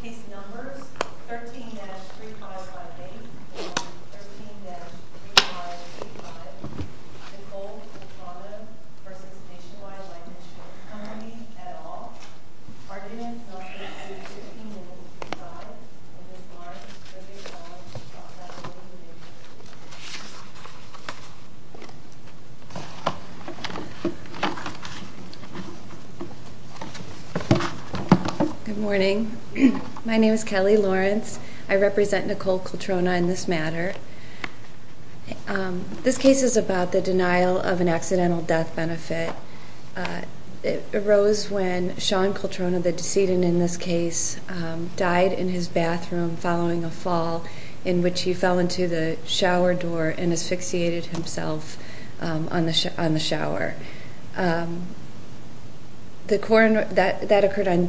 Case Numbers 13-3558 and 13-3585 Nicole Cultrona v. Nationwide Life Insurance Company, et al. Good morning. My name is Kelly Lawrence. I represent Nicole Cultrona in this matter. This case is about the denial of an accidental death benefit. It arose when Sean Cultrona, the decedent in this case, died in his bathroom following a fall in which he fell into the shower door and asphyxiated himself on the shower. That occurred on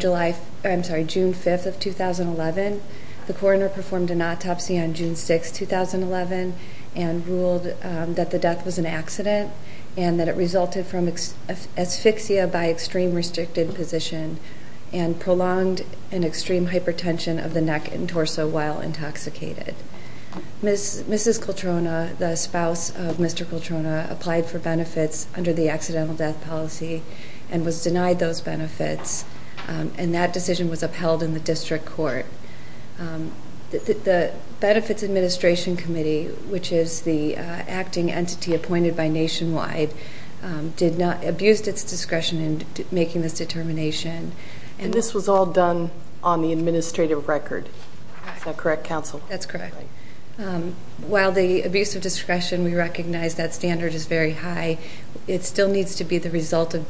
June 5, 2011. The coroner performed an autopsy on June 6, 2011 and ruled that the death was an accident and that it resulted from asphyxia by extreme restricted position and prolonged an extreme hypertension of the neck and torso while intoxicated. Mrs. Cultrona, the spouse of Mr. Cultrona, applied for benefits under the accidental death policy and was denied those benefits and that decision was upheld in the district court. The Benefits Administration Committee, which is the acting entity appointed by Nationwide, abused its discretion in making this determination. And this was all done on the administrative record. Is that correct, counsel? That's correct. While the abuse of discretion, we recognize that standard is very high, it still needs to be the result of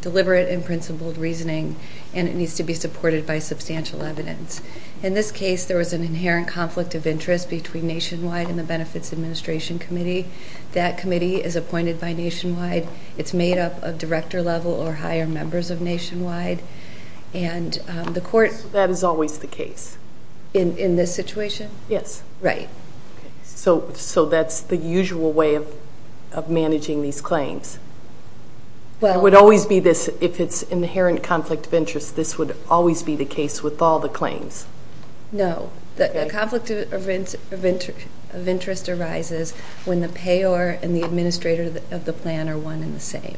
deliberate and principled reasoning and it needs to be supported by substantial evidence. In this case, there was an inherent conflict of interest between Nationwide and the Benefits Administration Committee. That committee is appointed by Nationwide. It's made up of director level or higher members of Nationwide. So that is always the case? In this situation? Yes. Right. So that's the usual way of managing these claims? Well... It would always be this, if it's inherent conflict of interest, this would always be the case with all the claims? No. The conflict of interest arises when the payer and the administrator of the plan are one and the same.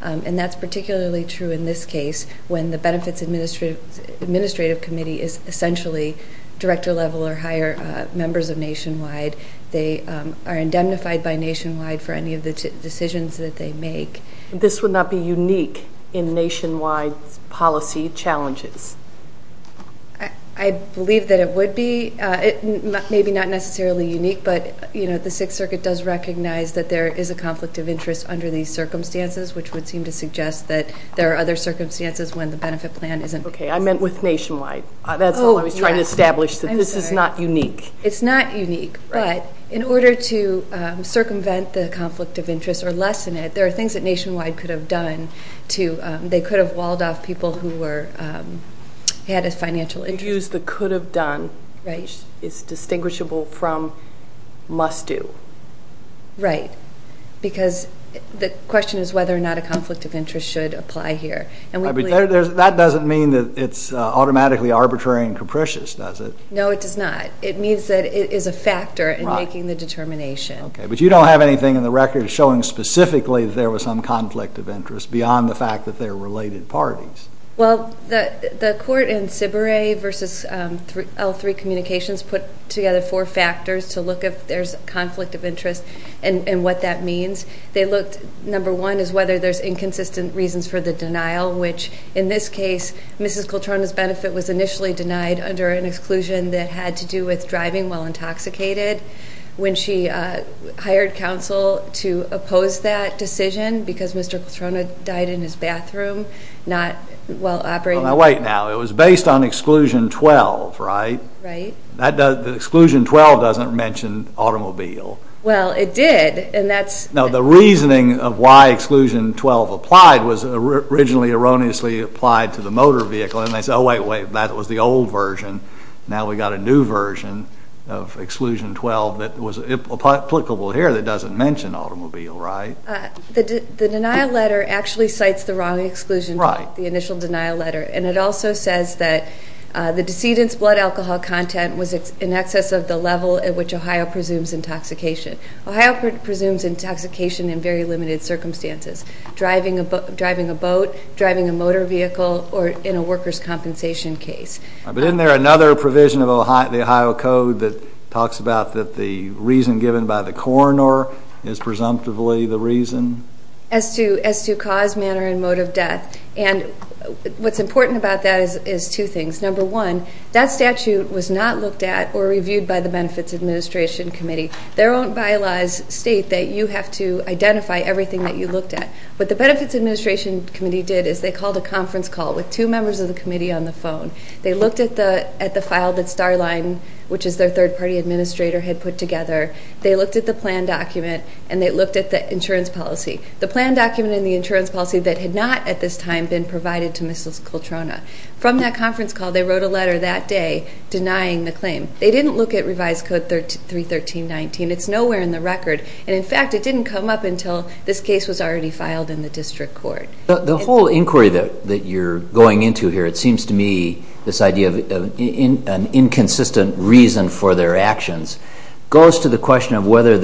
And that's particularly true in this case when the Benefits Administration Committee is essentially director level or higher members of Nationwide. They are indemnified by Nationwide for any of the decisions that they make. This would not be unique in Nationwide's policy challenges? I believe that it would be. Maybe not necessarily unique, but the Sixth Circuit does recognize that there is a conflict of interest under these circumstances, which would seem to suggest that there are other circumstances when the benefit plan isn't... Okay, I meant with Nationwide. That's what I was trying to establish, that this is not unique. It's not unique, but in order to circumvent the conflict of interest or lessen it, there are things that Nationwide could have done. They could have walled off people who had a financial interest. You used the could have done, which is distinguishable from must do. Right. Because the question is whether or not a conflict of interest should apply here. That doesn't mean that it's automatically arbitrary and capricious, does it? No, it does not. It means that it is a factor in making the determination. Okay, but you don't have anything in the record showing specifically that there was some conflict of interest beyond the fact that they're related parties. Well, the court in Cibere versus L3 Communications put together four factors to look at if there's a conflict of interest and what that means. Number one is whether there's inconsistent reasons for the denial, which in this case, Mrs. Coltrona's benefit was initially denied under an exclusion that had to do with driving while intoxicated. When she hired counsel to oppose that decision because Mr. Coltrona died in his bathroom, not while operating... Wait now, it was based on exclusion 12, right? Right. The exclusion 12 doesn't mention automobile. Well, it did, and that's... No, the reasoning of why exclusion 12 applied was originally erroneously applied to the motor vehicle. And they said, oh, wait, wait, that was the old version. Now we've got a new version of exclusion 12 that was applicable here that doesn't mention automobile, right? The denial letter actually cites the wrong exclusion, the initial denial letter. And it also says that the decedent's blood alcohol content was in excess of the level at which Ohio presumes intoxication. Ohio presumes intoxication in very limited circumstances, driving a boat, driving a motor vehicle, or in a worker's compensation case. But isn't there another provision of the Ohio Code that talks about that the reason given by the coroner is presumptively the reason? As to cause, manner, and mode of death. And what's important about that is two things. Number one, that statute was not looked at or reviewed by the Benefits Administration Committee. Their own bylaws state that you have to identify everything that you looked at. What the Benefits Administration Committee did is they called a conference call with two members of the committee on the phone. They looked at the file that Starline, which is their third-party administrator, had put together. They looked at the plan document, and they looked at the insurance policy. The plan document and the insurance policy that had not at this time been provided to Mrs. Coltrona. From that conference call, they wrote a letter that day denying the claim. They didn't look at Revised Code 31319. It's nowhere in the record. And, in fact, it didn't come up until this case was already filed in the district court. The whole inquiry that you're going into here, it seems to me, this idea of an inconsistent reason for their actions, goes to the question of whether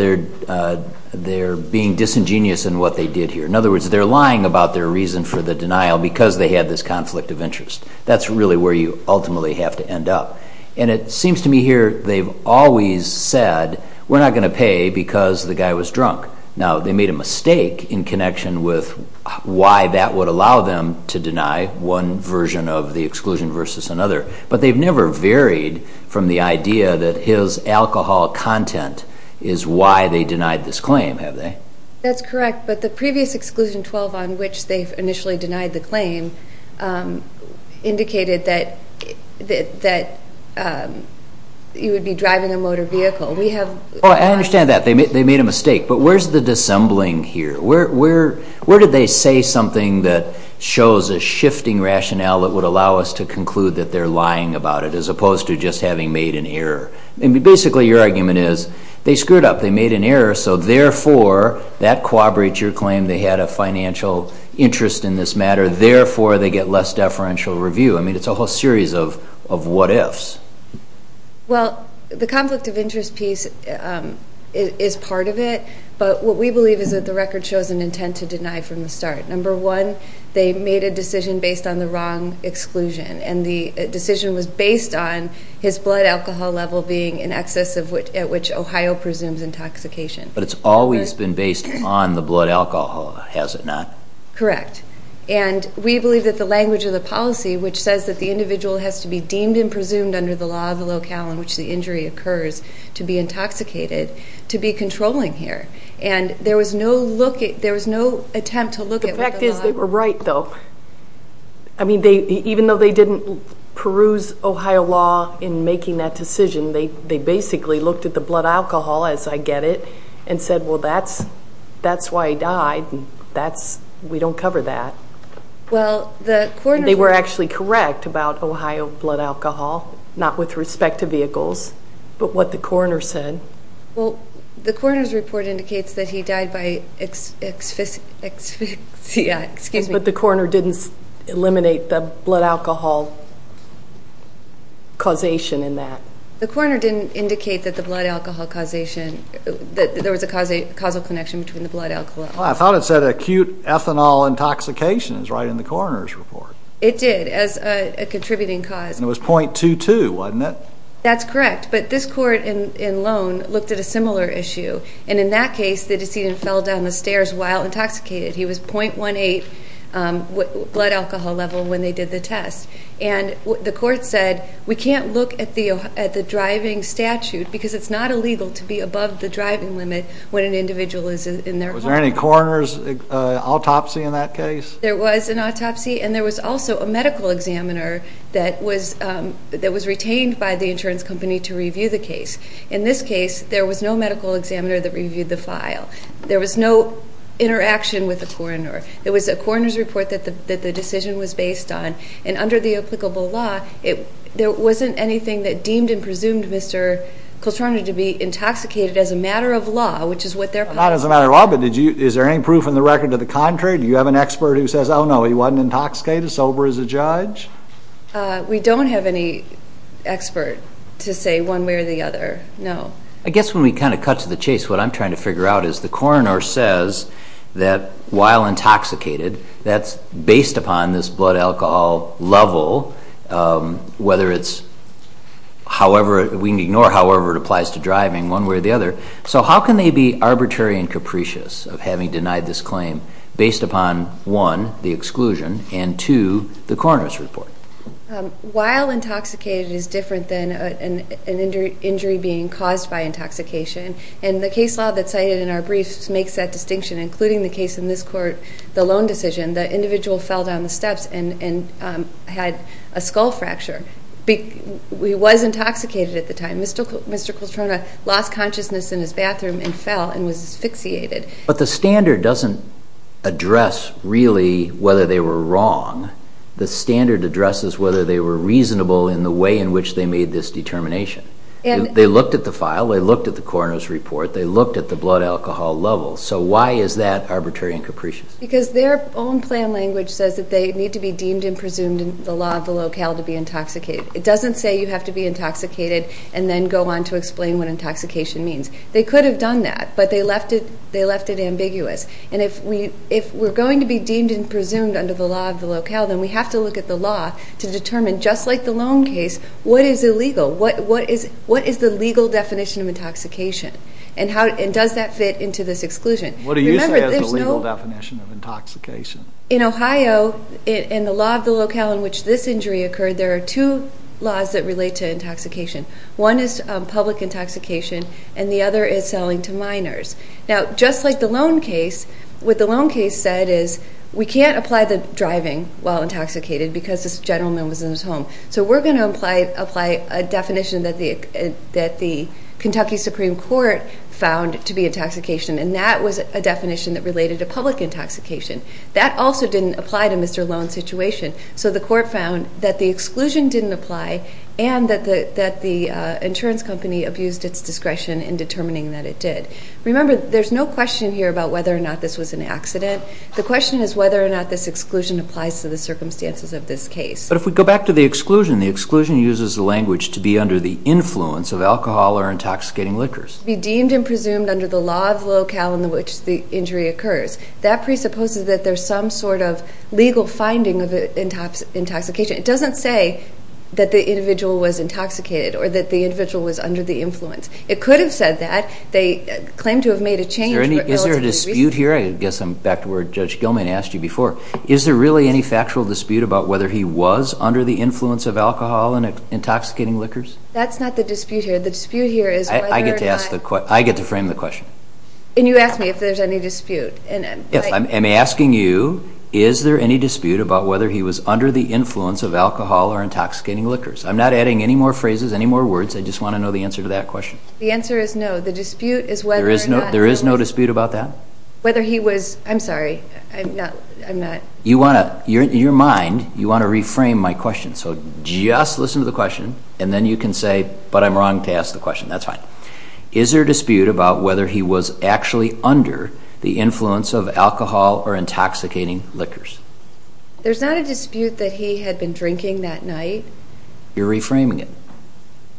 they're being disingenuous in what they did here. In other words, they're lying about their reason for the denial because they had this conflict of interest. That's really where you ultimately have to end up. And it seems to me here they've always said, we're not going to pay because the guy was drunk. Now, they made a mistake in connection with why that would allow them to deny one version of the exclusion versus another. But they've never varied from the idea that his alcohol content is why they denied this claim, have they? That's correct. But the previous Exclusion 12 on which they initially denied the claim indicated that he would be driving a motor vehicle. I understand that. They made a mistake. But where's the dissembling here? Where did they say something that shows a shifting rationale that would allow us to conclude that they're lying about it, as opposed to just having made an error? Basically, your argument is they screwed up. They made an error. So, therefore, that corroborates your claim they had a financial interest in this matter. Therefore, they get less deferential review. I mean, it's a whole series of what-ifs. Well, the conflict of interest piece is part of it. But what we believe is that the record shows an intent to deny from the start. Number one, they made a decision based on the wrong exclusion, and the decision was based on his blood alcohol level being in excess at which Ohio presumes intoxication. But it's always been based on the blood alcohol, has it not? Correct. And we believe that the language of the policy, which says that the individual has to be deemed and presumed under the law of the locale in which the injury occurs to be intoxicated, to be controlling here. And there was no attempt to look at what the law was. The fact is they were right, though. I mean, even though they didn't peruse Ohio law in making that decision, they basically looked at the blood alcohol, as I get it, and said, well, that's why he died, and we don't cover that. Well, the coroner said. They were actually correct about Ohio blood alcohol, not with respect to vehicles, but what the coroner said. Well, the coroner's report indicates that he died by asphyxia. But the coroner didn't eliminate the blood alcohol causation in that. The coroner didn't indicate that the blood alcohol causation, that there was a causal connection between the blood alcohol. I thought it said acute ethanol intoxication is right in the coroner's report. It did, as a contributing cause. And it was .22, wasn't it? That's correct. But this court in Lone looked at a similar issue, and in that case the decedent fell down the stairs while intoxicated. He was .18 blood alcohol level when they did the test. And the court said, we can't look at the driving statute because it's not illegal to be above the driving limit when an individual is in their home. Was there any coroner's autopsy in that case? There was an autopsy, and there was also a medical examiner that was retained by the insurance company to review the case. In this case, there was no medical examiner that reviewed the file. There was no interaction with the coroner. There was a coroner's report that the decision was based on. And under the applicable law, there wasn't anything that deemed and presumed Mr. Coltrane to be intoxicated as a matter of law, which is what they're calling it. Not as a matter of law, but is there any proof in the record to the contrary? Do you have an expert who says, oh no, he wasn't intoxicated, sober as a judge? We don't have any expert to say one way or the other, no. I guess when we kind of cut to the chase, what I'm trying to figure out is the coroner says that while intoxicated, that's based upon this blood alcohol level, whether it's however, we can ignore however it applies to driving, one way or the other. So how can they be arbitrary and capricious of having denied this claim based upon, one, the exclusion, and two, the coroner's report? While intoxicated is different than an injury being caused by intoxication, and the case law that's cited in our briefs makes that distinction, including the case in this court, the loan decision. The individual fell down the steps and had a skull fracture. He was intoxicated at the time. Mr. Coltrona lost consciousness in his bathroom and fell and was asphyxiated. But the standard doesn't address really whether they were wrong. The standard addresses whether they were reasonable in the way in which they made this determination. They looked at the file, they looked at the coroner's report, they looked at the blood alcohol level. So why is that arbitrary and capricious? Because their own plan language says that they need to be deemed and presumed in the law of the locale to be intoxicated. It doesn't say you have to be intoxicated and then go on to explain what intoxication means. They could have done that, but they left it ambiguous. And if we're going to be deemed and presumed under the law of the locale, then we have to look at the law to determine, just like the loan case, what is illegal? What is the legal definition of intoxication? And does that fit into this exclusion? What do you say is the legal definition of intoxication? In Ohio, in the law of the locale in which this injury occurred, there are two laws that relate to intoxication. One is public intoxication, and the other is selling to minors. Now, just like the loan case, what the loan case said is, we can't apply the driving while intoxicated because this gentleman was in his home. So we're going to apply a definition that the Kentucky Supreme Court found to be intoxication, and that was a definition that related to public intoxication. That also didn't apply to Mr. Loan's situation. So the court found that the exclusion didn't apply and that the insurance company abused its discretion in determining that it did. Remember, there's no question here about whether or not this was an accident. The question is whether or not this exclusion applies to the circumstances of this case. But if we go back to the exclusion, the exclusion uses the language to be under the influence of alcohol or intoxicating liquors. Be deemed and presumed under the law of the locale in which the injury occurs. That presupposes that there's some sort of legal finding of intoxication. It doesn't say that the individual was intoxicated or that the individual was under the influence. It could have said that. They claim to have made a change relatively recently. Is there a dispute here? I guess I'm back to where Judge Gilman asked you before. Is there really any factual dispute about whether he was under the influence of alcohol and intoxicating liquors? That's not the dispute here. The dispute here is whether or not— I get to frame the question. And you asked me if there's any dispute. Yes, I'm asking you is there any dispute about whether he was under the influence of alcohol or intoxicating liquors? I'm not adding any more phrases, any more words. I just want to know the answer to that question. The answer is no. The dispute is whether or not— There is no dispute about that? Whether he was—I'm sorry. I'm not— You want to—in your mind, you want to reframe my question. So just listen to the question, and then you can say, but I'm wrong to ask the question. That's fine. Is there a dispute about whether he was actually under the influence of alcohol or intoxicating liquors? There's not a dispute that he had been drinking that night. You're reframing it.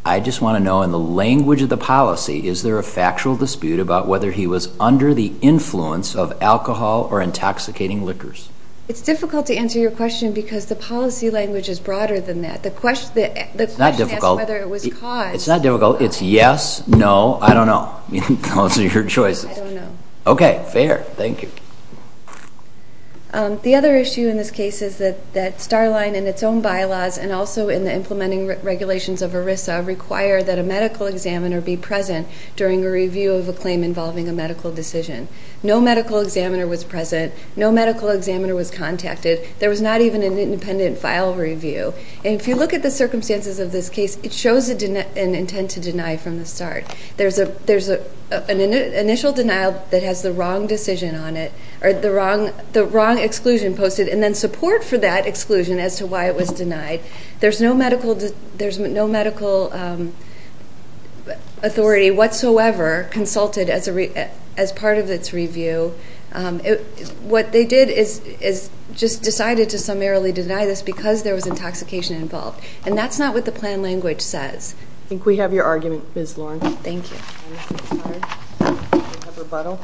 I just want to know in the language of the policy, is there a factual dispute about whether he was under the influence of alcohol or intoxicating liquors? It's difficult to answer your question because the policy language is broader than that. The question— It's not difficult. The question asks whether it was caused. It's not difficult. It's yes, no, I don't know. Those are your choices. I don't know. Okay. Fair. Thank you. The other issue in this case is that Starline in its own bylaws and also in the implementing regulations of ERISA require that a medical examiner be present during a review of a claim involving a medical decision. No medical examiner was present. No medical examiner was contacted. There was not even an independent file review. And if you look at the circumstances of this case, it shows an intent to deny from the start. There's an initial denial that has the wrong decision on it or the wrong exclusion posted and then support for that exclusion as to why it was denied. There's no medical authority whatsoever consulted as part of its review. What they did is just decided to summarily deny this because there was intoxication involved. And that's not what the plan language says. I think we have your argument, Ms. Lawrence. Thank you. We have a rebuttal.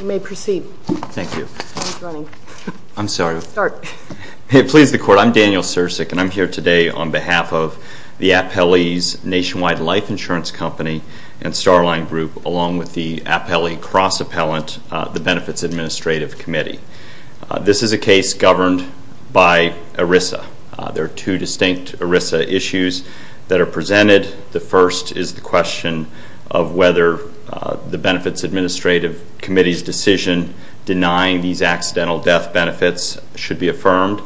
You may proceed. Thank you. I'm sorry. Start. Hey, please, the Court. I'm Daniel Sirsik, and I'm here today on behalf of the Appellee's Nationwide Life Insurance Company and Starline Group along with the Appellee Cross-Appellant, the Benefits Administrative Committee. This is a case governed by ERISA. There are two distinct ERISA issues that are presented. The first is the question of whether the Benefits Administrative Committee's decision denying these accidental death benefits should be affirmed.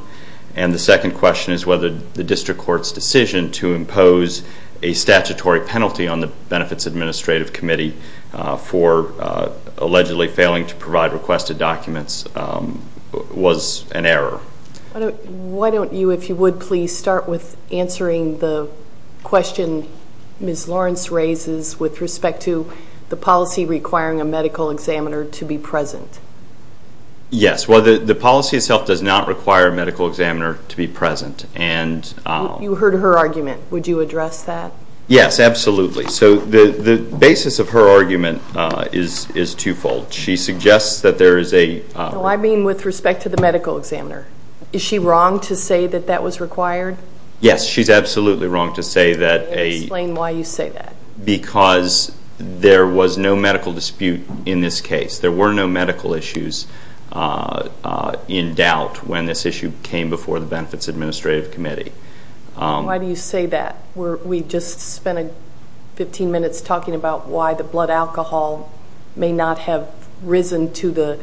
And the second question is whether the district court's decision to impose a statutory penalty on the Benefits Administrative Committee for allegedly failing to provide requested documents was an error. Why don't you, if you would, please start with answering the question Ms. Lawrence raises with respect to the policy requiring a medical examiner to be present. Yes. Well, the policy itself does not require a medical examiner to be present. You heard her argument. Would you address that? Yes, absolutely. So the basis of her argument is twofold. She suggests that there is a- No, I mean with respect to the medical examiner. Is she wrong to say that that was required? Yes, she's absolutely wrong to say that a- Explain why you say that. Because there was no medical dispute in this case. There were no medical issues in doubt when this issue came before the Benefits Administrative Committee. Why do you say that? We just spent 15 minutes talking about why the blood alcohol may not have risen to the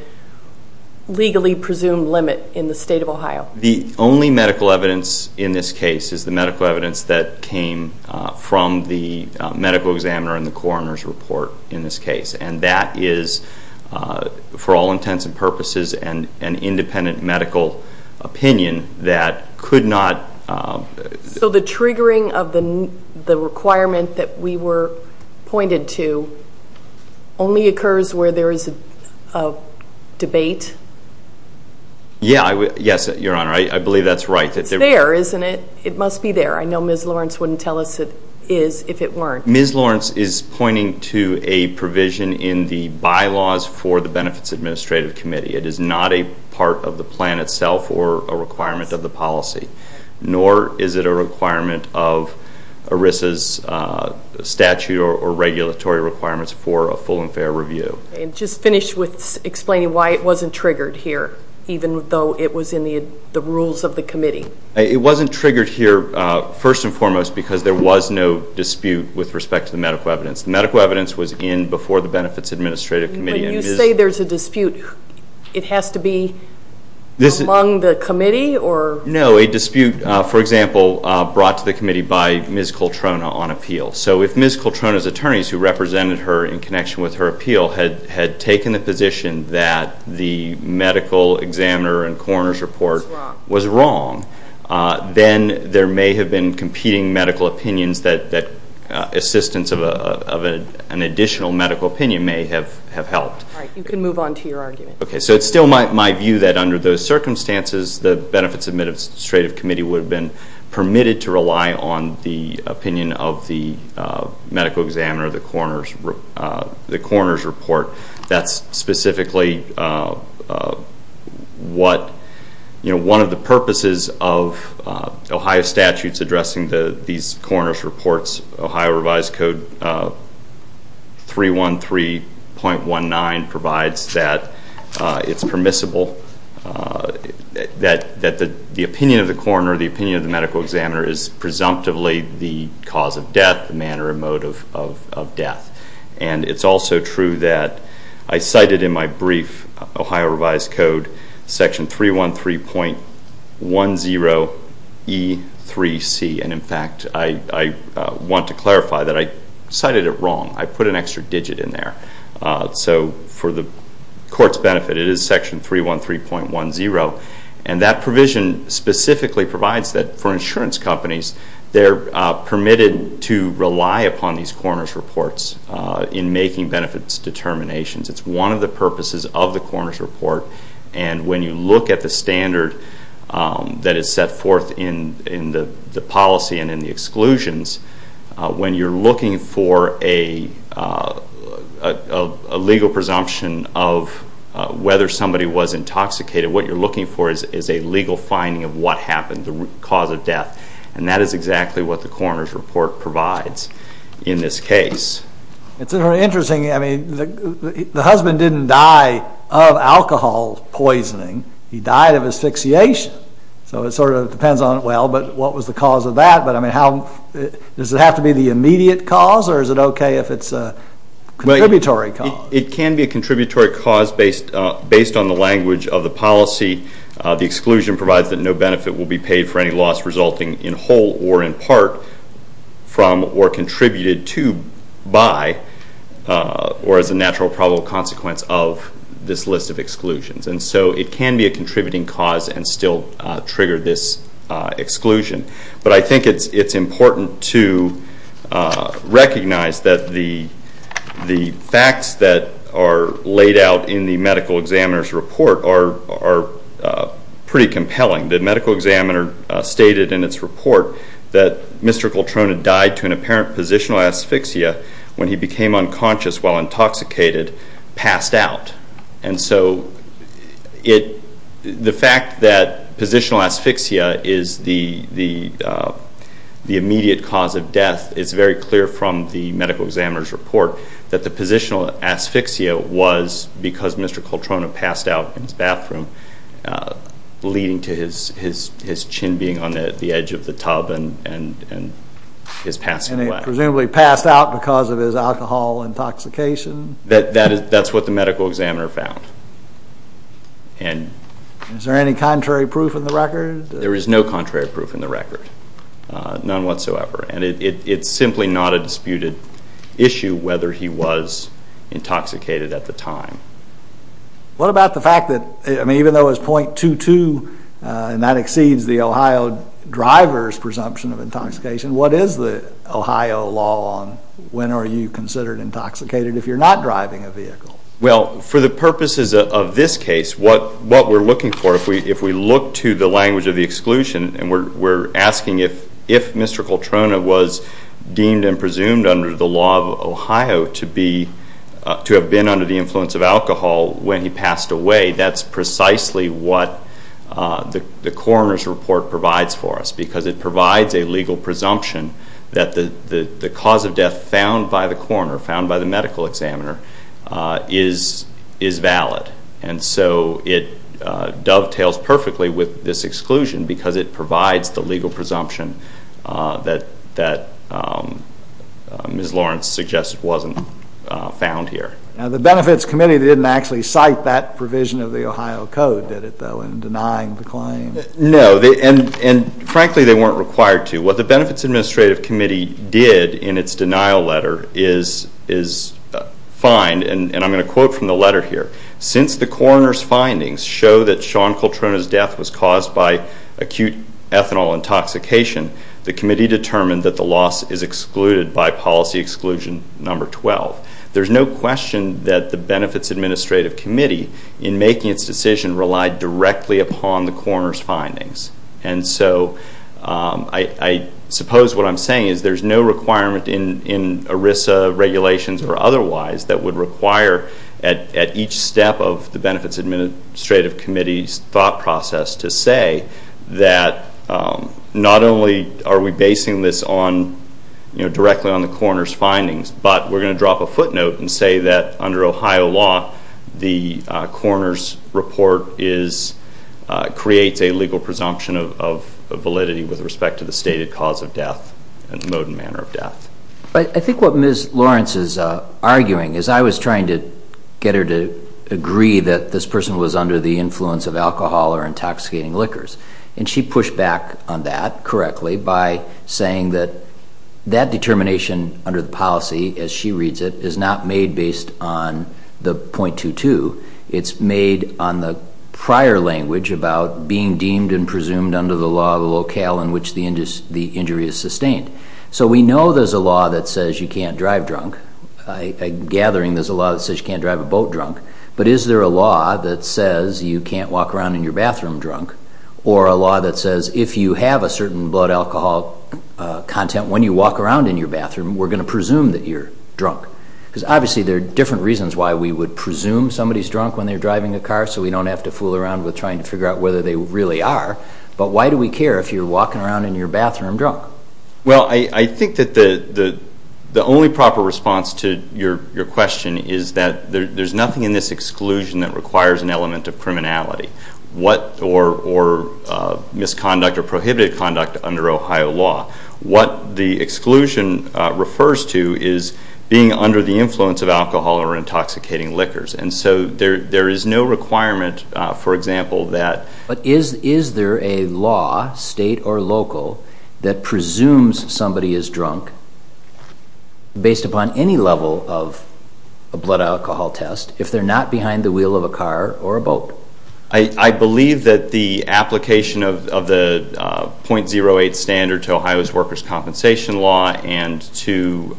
legally presumed limit in the state of Ohio. The only medical evidence in this case is the medical evidence that came from the medical examiner and the coroner's report in this case. And that is, for all intents and purposes, an independent medical opinion that could not- So the triggering of the requirement that we were pointed to only occurs where there is a debate? Yes, Your Honor. I believe that's right. It's there, isn't it? It must be there. I know Ms. Lawrence wouldn't tell us it is if it weren't. Ms. Lawrence is pointing to a provision in the bylaws for the Benefits Administrative Committee. It is not a part of the plan itself or a requirement of the policy, nor is it a requirement of ERISA's statute or regulatory requirements for a full and fair review. Just finish with explaining why it wasn't triggered here, even though it was in the rules of the committee. It wasn't triggered here, first and foremost, because there was no dispute with respect to the medical evidence. The medical evidence was in before the Benefits Administrative Committee. But you say there's a dispute. It has to be among the committee? No, a dispute, for example, brought to the committee by Ms. Coltrona on appeal. So if Ms. Coltrona's attorneys, who represented her in connection with her appeal, had taken the position that the medical examiner and coroner's report was wrong, then there may have been competing medical opinions that assistance of an additional medical opinion may have helped. All right, you can move on to your argument. Okay, so it's still my view that under those circumstances, the Benefits Administrative Committee would have been permitted to rely on the opinion of the medical examiner, the coroner's report. That's specifically one of the purposes of Ohio statutes addressing these coroner's reports. Ohio Revised Code 313.19 provides that it's permissible that the opinion of the coroner, the opinion of the medical examiner, is presumptively the cause of death, the manner or mode of death. And it's also true that I cited in my brief Ohio Revised Code Section 313.10E3C. And, in fact, I want to clarify that I cited it wrong. I put an extra digit in there. So for the Court's benefit, it is Section 313.10. And that provision specifically provides that for insurance companies, they're permitted to rely upon these coroner's reports in making benefits determinations. It's one of the purposes of the coroner's report. And when you look at the standard that is set forth in the policy and in the exclusions, when you're looking for a legal presumption of whether somebody was intoxicated, what you're looking for is a legal finding of what happened, the cause of death. And that is exactly what the coroner's report provides in this case. It's very interesting. I mean, the husband didn't die of alcohol poisoning. He died of asphyxiation. So it sort of depends on, well, but what was the cause of that? But, I mean, does it have to be the immediate cause or is it okay if it's a contributory cause? It can be a contributory cause based on the language of the policy. The exclusion provides that no benefit will be paid for any loss resulting in whole or in part from or contributed to, by, or as a natural probable consequence of this list of exclusions. And so it can be a contributing cause and still trigger this exclusion. But I think it's important to recognize that the facts that are laid out in the medical examiner's report are pretty compelling. The medical examiner stated in its report that Mr. Coltrone had died to an apparent positional asphyxia when he became unconscious while intoxicated, passed out. And so the fact that positional asphyxia is the immediate cause of death is very clear from the medical examiner's report that the positional asphyxia was because Mr. Coltrone had passed out in his bathroom, leading to his chin being on the edge of the tub and his passing away. And he presumably passed out because of his alcohol intoxication? That's what the medical examiner found. Is there any contrary proof in the record? There is no contrary proof in the record, none whatsoever. And it's simply not a disputed issue whether he was intoxicated at the time. What about the fact that, I mean, even though it's .22, and that exceeds the Ohio driver's presumption of intoxication, what is the Ohio law on when are you considered intoxicated if you're not driving a vehicle? Well, for the purposes of this case, what we're looking for, if we look to the language of the exclusion and we're asking if Mr. Coltrone was deemed and presumed under the law of Ohio to have been under the influence of alcohol when he passed away, that's precisely what the coroner's report provides for us because it provides a legal presumption that the cause of death found by the coroner, found by the medical examiner, is valid. And so it dovetails perfectly with this exclusion because it provides the legal presumption that Ms. Lawrence suggests wasn't found here. Now, the Benefits Committee didn't actually cite that provision of the Ohio Code, did it, though, in denying the claim? No, and frankly, they weren't required to. What the Benefits Administrative Committee did in its denial letter is find, and I'm going to quote from the letter here, since the coroner's findings show that Sean Coltrone's death was caused by acute ethanol intoxication, the committee determined that the loss is excluded by policy exclusion number 12. There's no question that the Benefits Administrative Committee, in making its decision, relied directly upon the coroner's findings. And so I suppose what I'm saying is there's no requirement in ERISA regulations or otherwise that would require at each step of the Benefits Administrative Committee's thought process to say that not only are we basing this directly on the coroner's findings, but we're going to drop a footnote and say that under Ohio law, the coroner's report creates a legal presumption of validity with respect to the stated cause of death and the mode and manner of death. I think what Ms. Lawrence is arguing is I was trying to get her to agree that this person was under the influence of alcohol or intoxicating liquors, and she pushed back on that correctly by saying that that determination under the policy, as she reads it, is not made based on the .22. It's made on the prior language about being deemed and presumed under the law of the locale in which the injury is sustained. So we know there's a law that says you can't drive drunk. I'm gathering there's a law that says you can't drive a boat drunk. But is there a law that says you can't walk around in your bathroom drunk or a law that says if you have a certain blood alcohol content when you walk around in your bathroom, we're going to presume that you're drunk? Because obviously there are different reasons why we would presume somebody's drunk when they're driving a car so we don't have to fool around with trying to figure out whether they really are. But why do we care if you're walking around in your bathroom drunk? Well, I think that the only proper response to your question is that there's nothing in this exclusion that requires an element of criminality or misconduct or prohibited conduct under Ohio law. What the exclusion refers to is being under the influence of alcohol or intoxicating liquors. And so there is no requirement, for example, that... But is there a law, state or local, that presumes somebody is drunk based upon any level of a blood alcohol test if they're not behind the wheel of a car or a boat? I believe that the application of the .08 standard to Ohio's workers' compensation law and to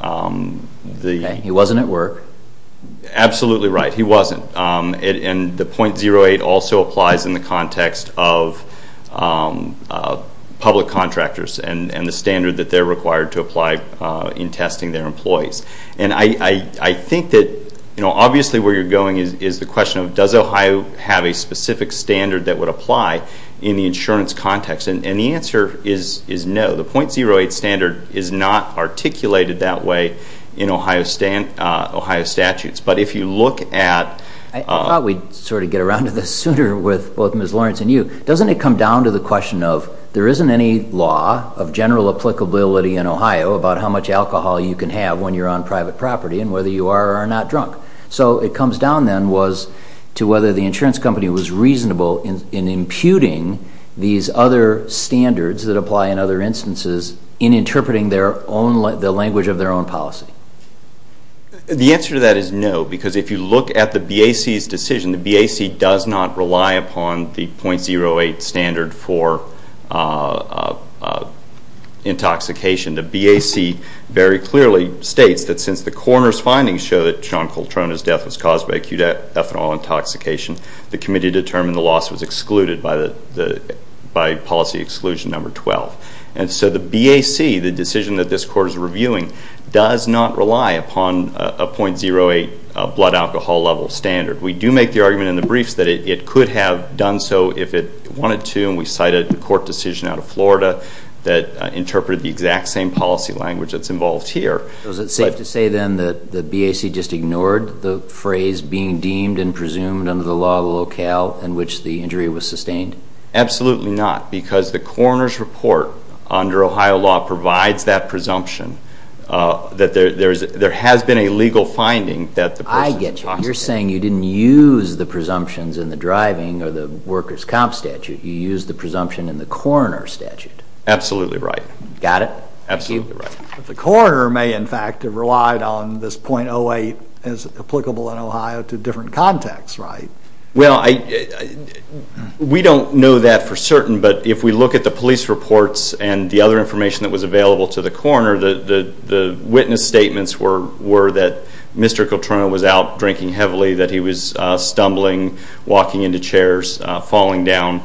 the... He wasn't at work. Absolutely right. He wasn't. And the .08 also applies in the context of public contractors and the standard that they're required to apply in testing their employees. And I think that obviously where you're going is the question of does Ohio have a specific standard that would apply in the insurance context? And the answer is no. The .08 standard is not articulated that way in Ohio statutes. But if you look at... I thought we'd sort of get around to this sooner with both Ms. Lawrence and you. Doesn't it come down to the question of there isn't any law of general applicability in Ohio about how much alcohol you can have when you're on private property and whether you are or are not drunk? So it comes down then to whether the insurance company was reasonable in imputing these other standards that apply in other instances in interpreting the language of their own policy. The answer to that is no, because if you look at the BAC's decision, the BAC does not rely upon the .08 standard for intoxication. The BAC very clearly states that since the coroner's findings show that Sean Coltrane's death was caused by acute ethanol intoxication, the committee determined the loss was excluded by policy exclusion number 12. And so the BAC, the decision that this Court is reviewing, does not rely upon a .08 blood alcohol level standard. We do make the argument in the briefs that it could have done so if it wanted to, and we cited the court decision out of Florida that interpreted the exact same policy language that's involved here. Was it safe to say then that the BAC just ignored the phrase being deemed and presumed under the law of the locale in which the injury was sustained? Absolutely not, because the coroner's report under Ohio law provides that presumption that there has been a legal finding that the person is intoxicated. I get you. You're saying you didn't use the presumptions in the driving or the worker's comp statute. You used the presumption in the coroner's statute. Absolutely right. Got it? Absolutely right. The coroner may, in fact, have relied on this .08 as applicable in Ohio to different contexts, right? Well, we don't know that for certain, but if we look at the police reports and the other information that was available to the coroner, the witness statements were that Mr. Coltrane was out drinking heavily, that he was stumbling, walking into chairs, falling down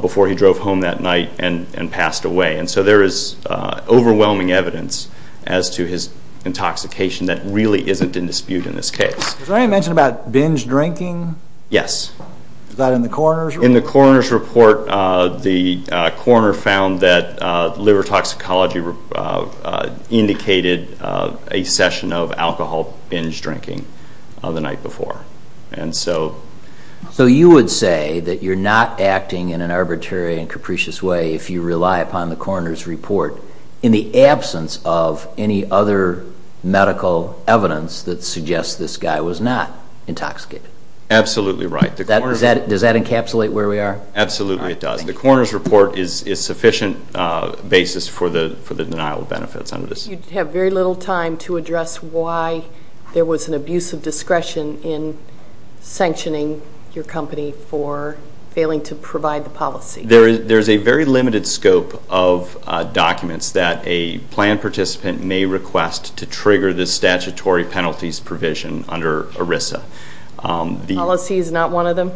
before he drove home that night and passed away. And so there is overwhelming evidence as to his intoxication that really isn't in dispute in this case. Was there any mention about binge drinking? Yes. Was that in the coroner's report? In the coroner's report, the coroner found that liver toxicology indicated a session of alcohol binge drinking the night before. So you would say that you're not acting in an arbitrary and capricious way if you rely upon the coroner's report in the absence of any other medical evidence that suggests this guy was not intoxicated. Absolutely right. Does that encapsulate where we are? Absolutely it does. The coroner's report is sufficient basis for the denial of benefits under this. You have very little time to address why there was an abuse of discretion in sanctioning your company for failing to provide the policy. There is a very limited scope of documents that a plan participant may request to trigger the statutory penalties provision under ERISA. Policy is not one of them?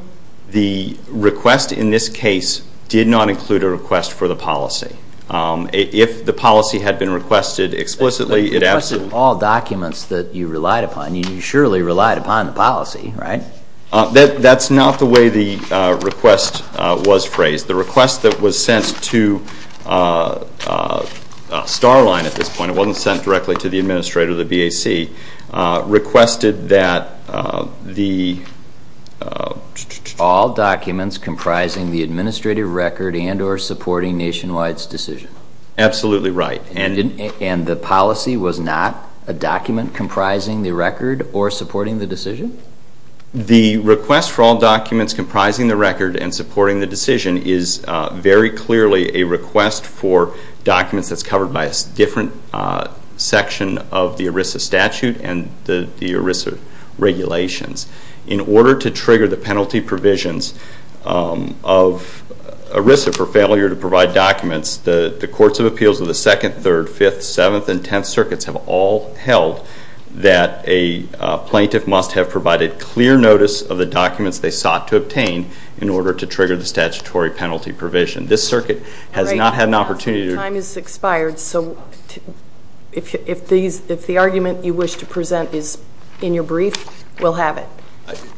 The request in this case did not include a request for the policy. If the policy had been requested explicitly, it absolutely It requested all documents that you relied upon. You surely relied upon the policy, right? That's not the way the request was phrased. The request that was sent to Starline at this point, it wasn't sent directly to the administrator of the BAC, requested that the All documents comprising the administrative record and or supporting Nationwide's decision. Absolutely right. And the policy was not a document comprising the record or supporting the decision? The request for all documents comprising the record and supporting the decision is very clearly a request for documents that's covered by a different section of the ERISA statute and the ERISA regulations. In order to trigger the penalty provisions of ERISA for failure to provide documents, the Courts of Appeals of the 2nd, 3rd, 5th, 7th, and 10th Circuits have all held that a plaintiff must have provided clear notice of the documents they sought to obtain in order to trigger the statutory penalty provision. This circuit has not had an opportunity to If the argument you wish to present is in your brief, we'll have it.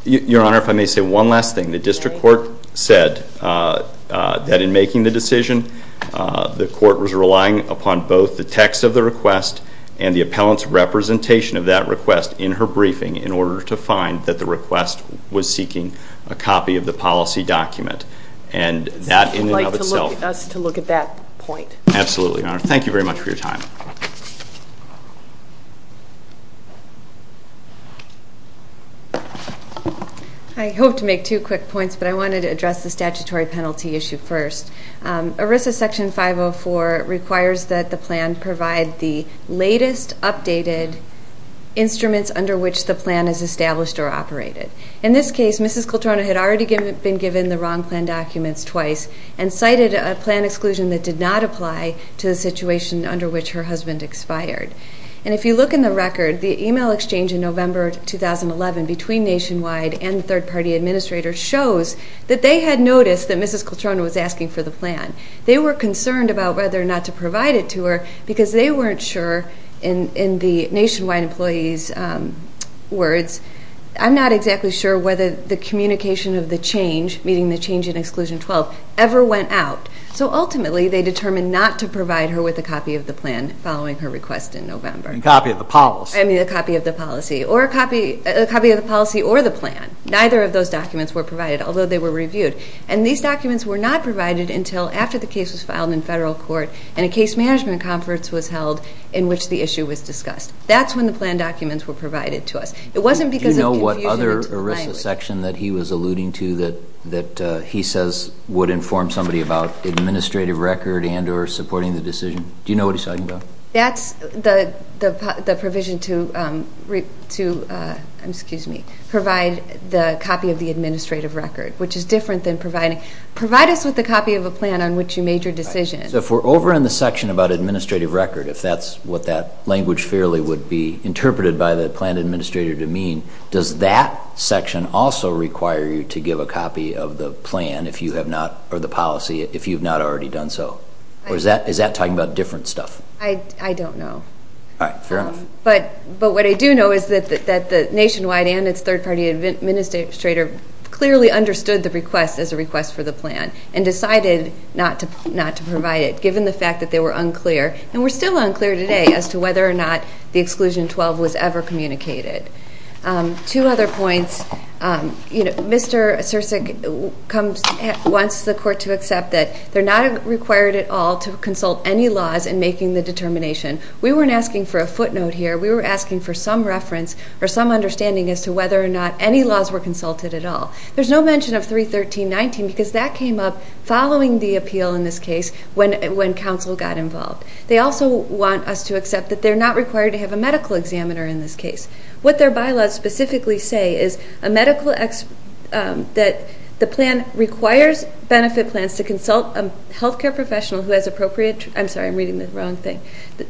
Your Honor, if I may say one last thing. The district court said that in making the decision, the court was relying upon both the text of the request and the appellant's representation of that request in her briefing in order to find that the request was seeking a copy of the policy document. And that in and of itself Would you like us to look at that point? Absolutely, Your Honor. Thank you very much for your time. I hope to make two quick points, but I wanted to address the statutory penalty issue first. ERISA Section 504 requires that the plan provide the latest updated instruments under which the plan is established or operated. In this case, Mrs. Coltrana had already been given the wrong plan documents twice and cited a plan exclusion that did not apply to the situation under which her husband expired. And if you look in the record, the email exchange in November 2011 between Nationwide and the third-party administrator shows that they had noticed that Mrs. Coltrana was asking for the plan. They were concerned about whether or not to provide it to her because they weren't sure, in the Nationwide employee's words, I'm not exactly sure whether the communication of the change, meaning the change in Exclusion 12, ever went out. So ultimately they determined not to provide her with a copy of the plan following her request in November. A copy of the policy. I mean a copy of the policy or the plan. Neither of those documents were provided, although they were reviewed. And these documents were not provided until after the case was filed in federal court and a case management conference was held in which the issue was discussed. That's when the plan documents were provided to us. It wasn't because of confusion into the language. That's the section that he was alluding to that he says would inform somebody about administrative record and or supporting the decision. Do you know what he's talking about? That's the provision to provide the copy of the administrative record, which is different than providing. Provide us with a copy of a plan on which you made your decision. So if we're over in the section about administrative record, if that's what that language fairly would be interpreted by the plan administrator to mean, does that section also require you to give a copy of the plan or the policy if you've not already done so? Or is that talking about different stuff? I don't know. All right. Fair enough. But what I do know is that the nationwide and its third-party administrator clearly understood the request as a request for the plan and decided not to provide it given the fact that they were unclear, and we're still unclear today as to whether or not the Exclusion 12 was ever communicated. Two other points. Mr. Sirsak wants the court to accept that they're not required at all to consult any laws in making the determination. We weren't asking for a footnote here. We were asking for some reference or some understanding as to whether or not any laws were consulted at all. There's no mention of 313.19 because that came up following the appeal in this case when counsel got involved. They also want us to accept that they're not required to have a medical examiner in this case. What their bylaws specifically say is that the plan requires benefit plans to consult a health care professional who has appropriate tr- I'm sorry, I'm reading the wrong thing. The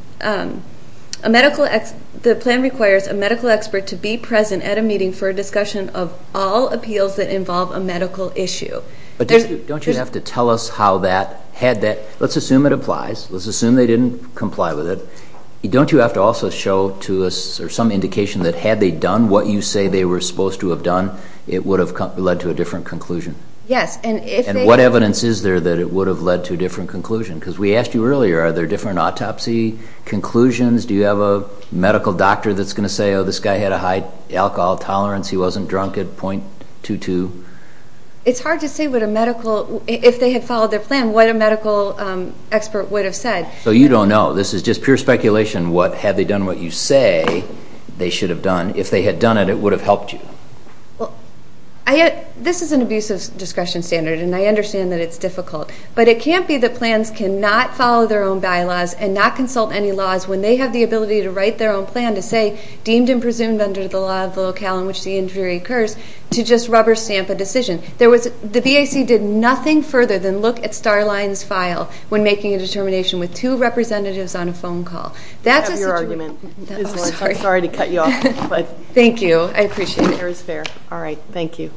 plan requires a medical expert to be present at a meeting for a discussion of all appeals that involve a medical issue. But don't you have to tell us how that, had that, let's assume it applies, let's assume they didn't comply with it. Don't you have to also show to us or some indication that had they done what you say they were supposed to have done, it would have led to a different conclusion? Yes, and if they- And what evidence is there that it would have led to a different conclusion? Because we asked you earlier, are there different autopsy conclusions? Do you have a medical doctor that's going to say, oh, this guy had a high alcohol tolerance, he wasn't drunk at .22? It's hard to say what a medical, if they had followed their plan, what a medical expert would have said. So you don't know. This is just pure speculation what, had they done what you say they should have done. If they had done it, it would have helped you. This is an abusive discretion standard, and I understand that it's difficult. But it can't be that plans cannot follow their own bylaws and not consult any laws when they have the ability to write their own plan to say, deemed and presumed under the law of locale in which the injury occurs, to just rubber stamp a decision. The BAC did nothing further than look at Starline's file when making a determination with two representatives on a phone call. That's a situation- I have your argument. Sorry to cut you off. Thank you. I appreciate it. Fair is fair. All right, thank you.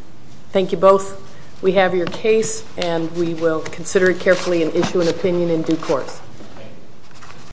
Thank you both. We have your case, and we will consider it carefully and issue an opinion in due course.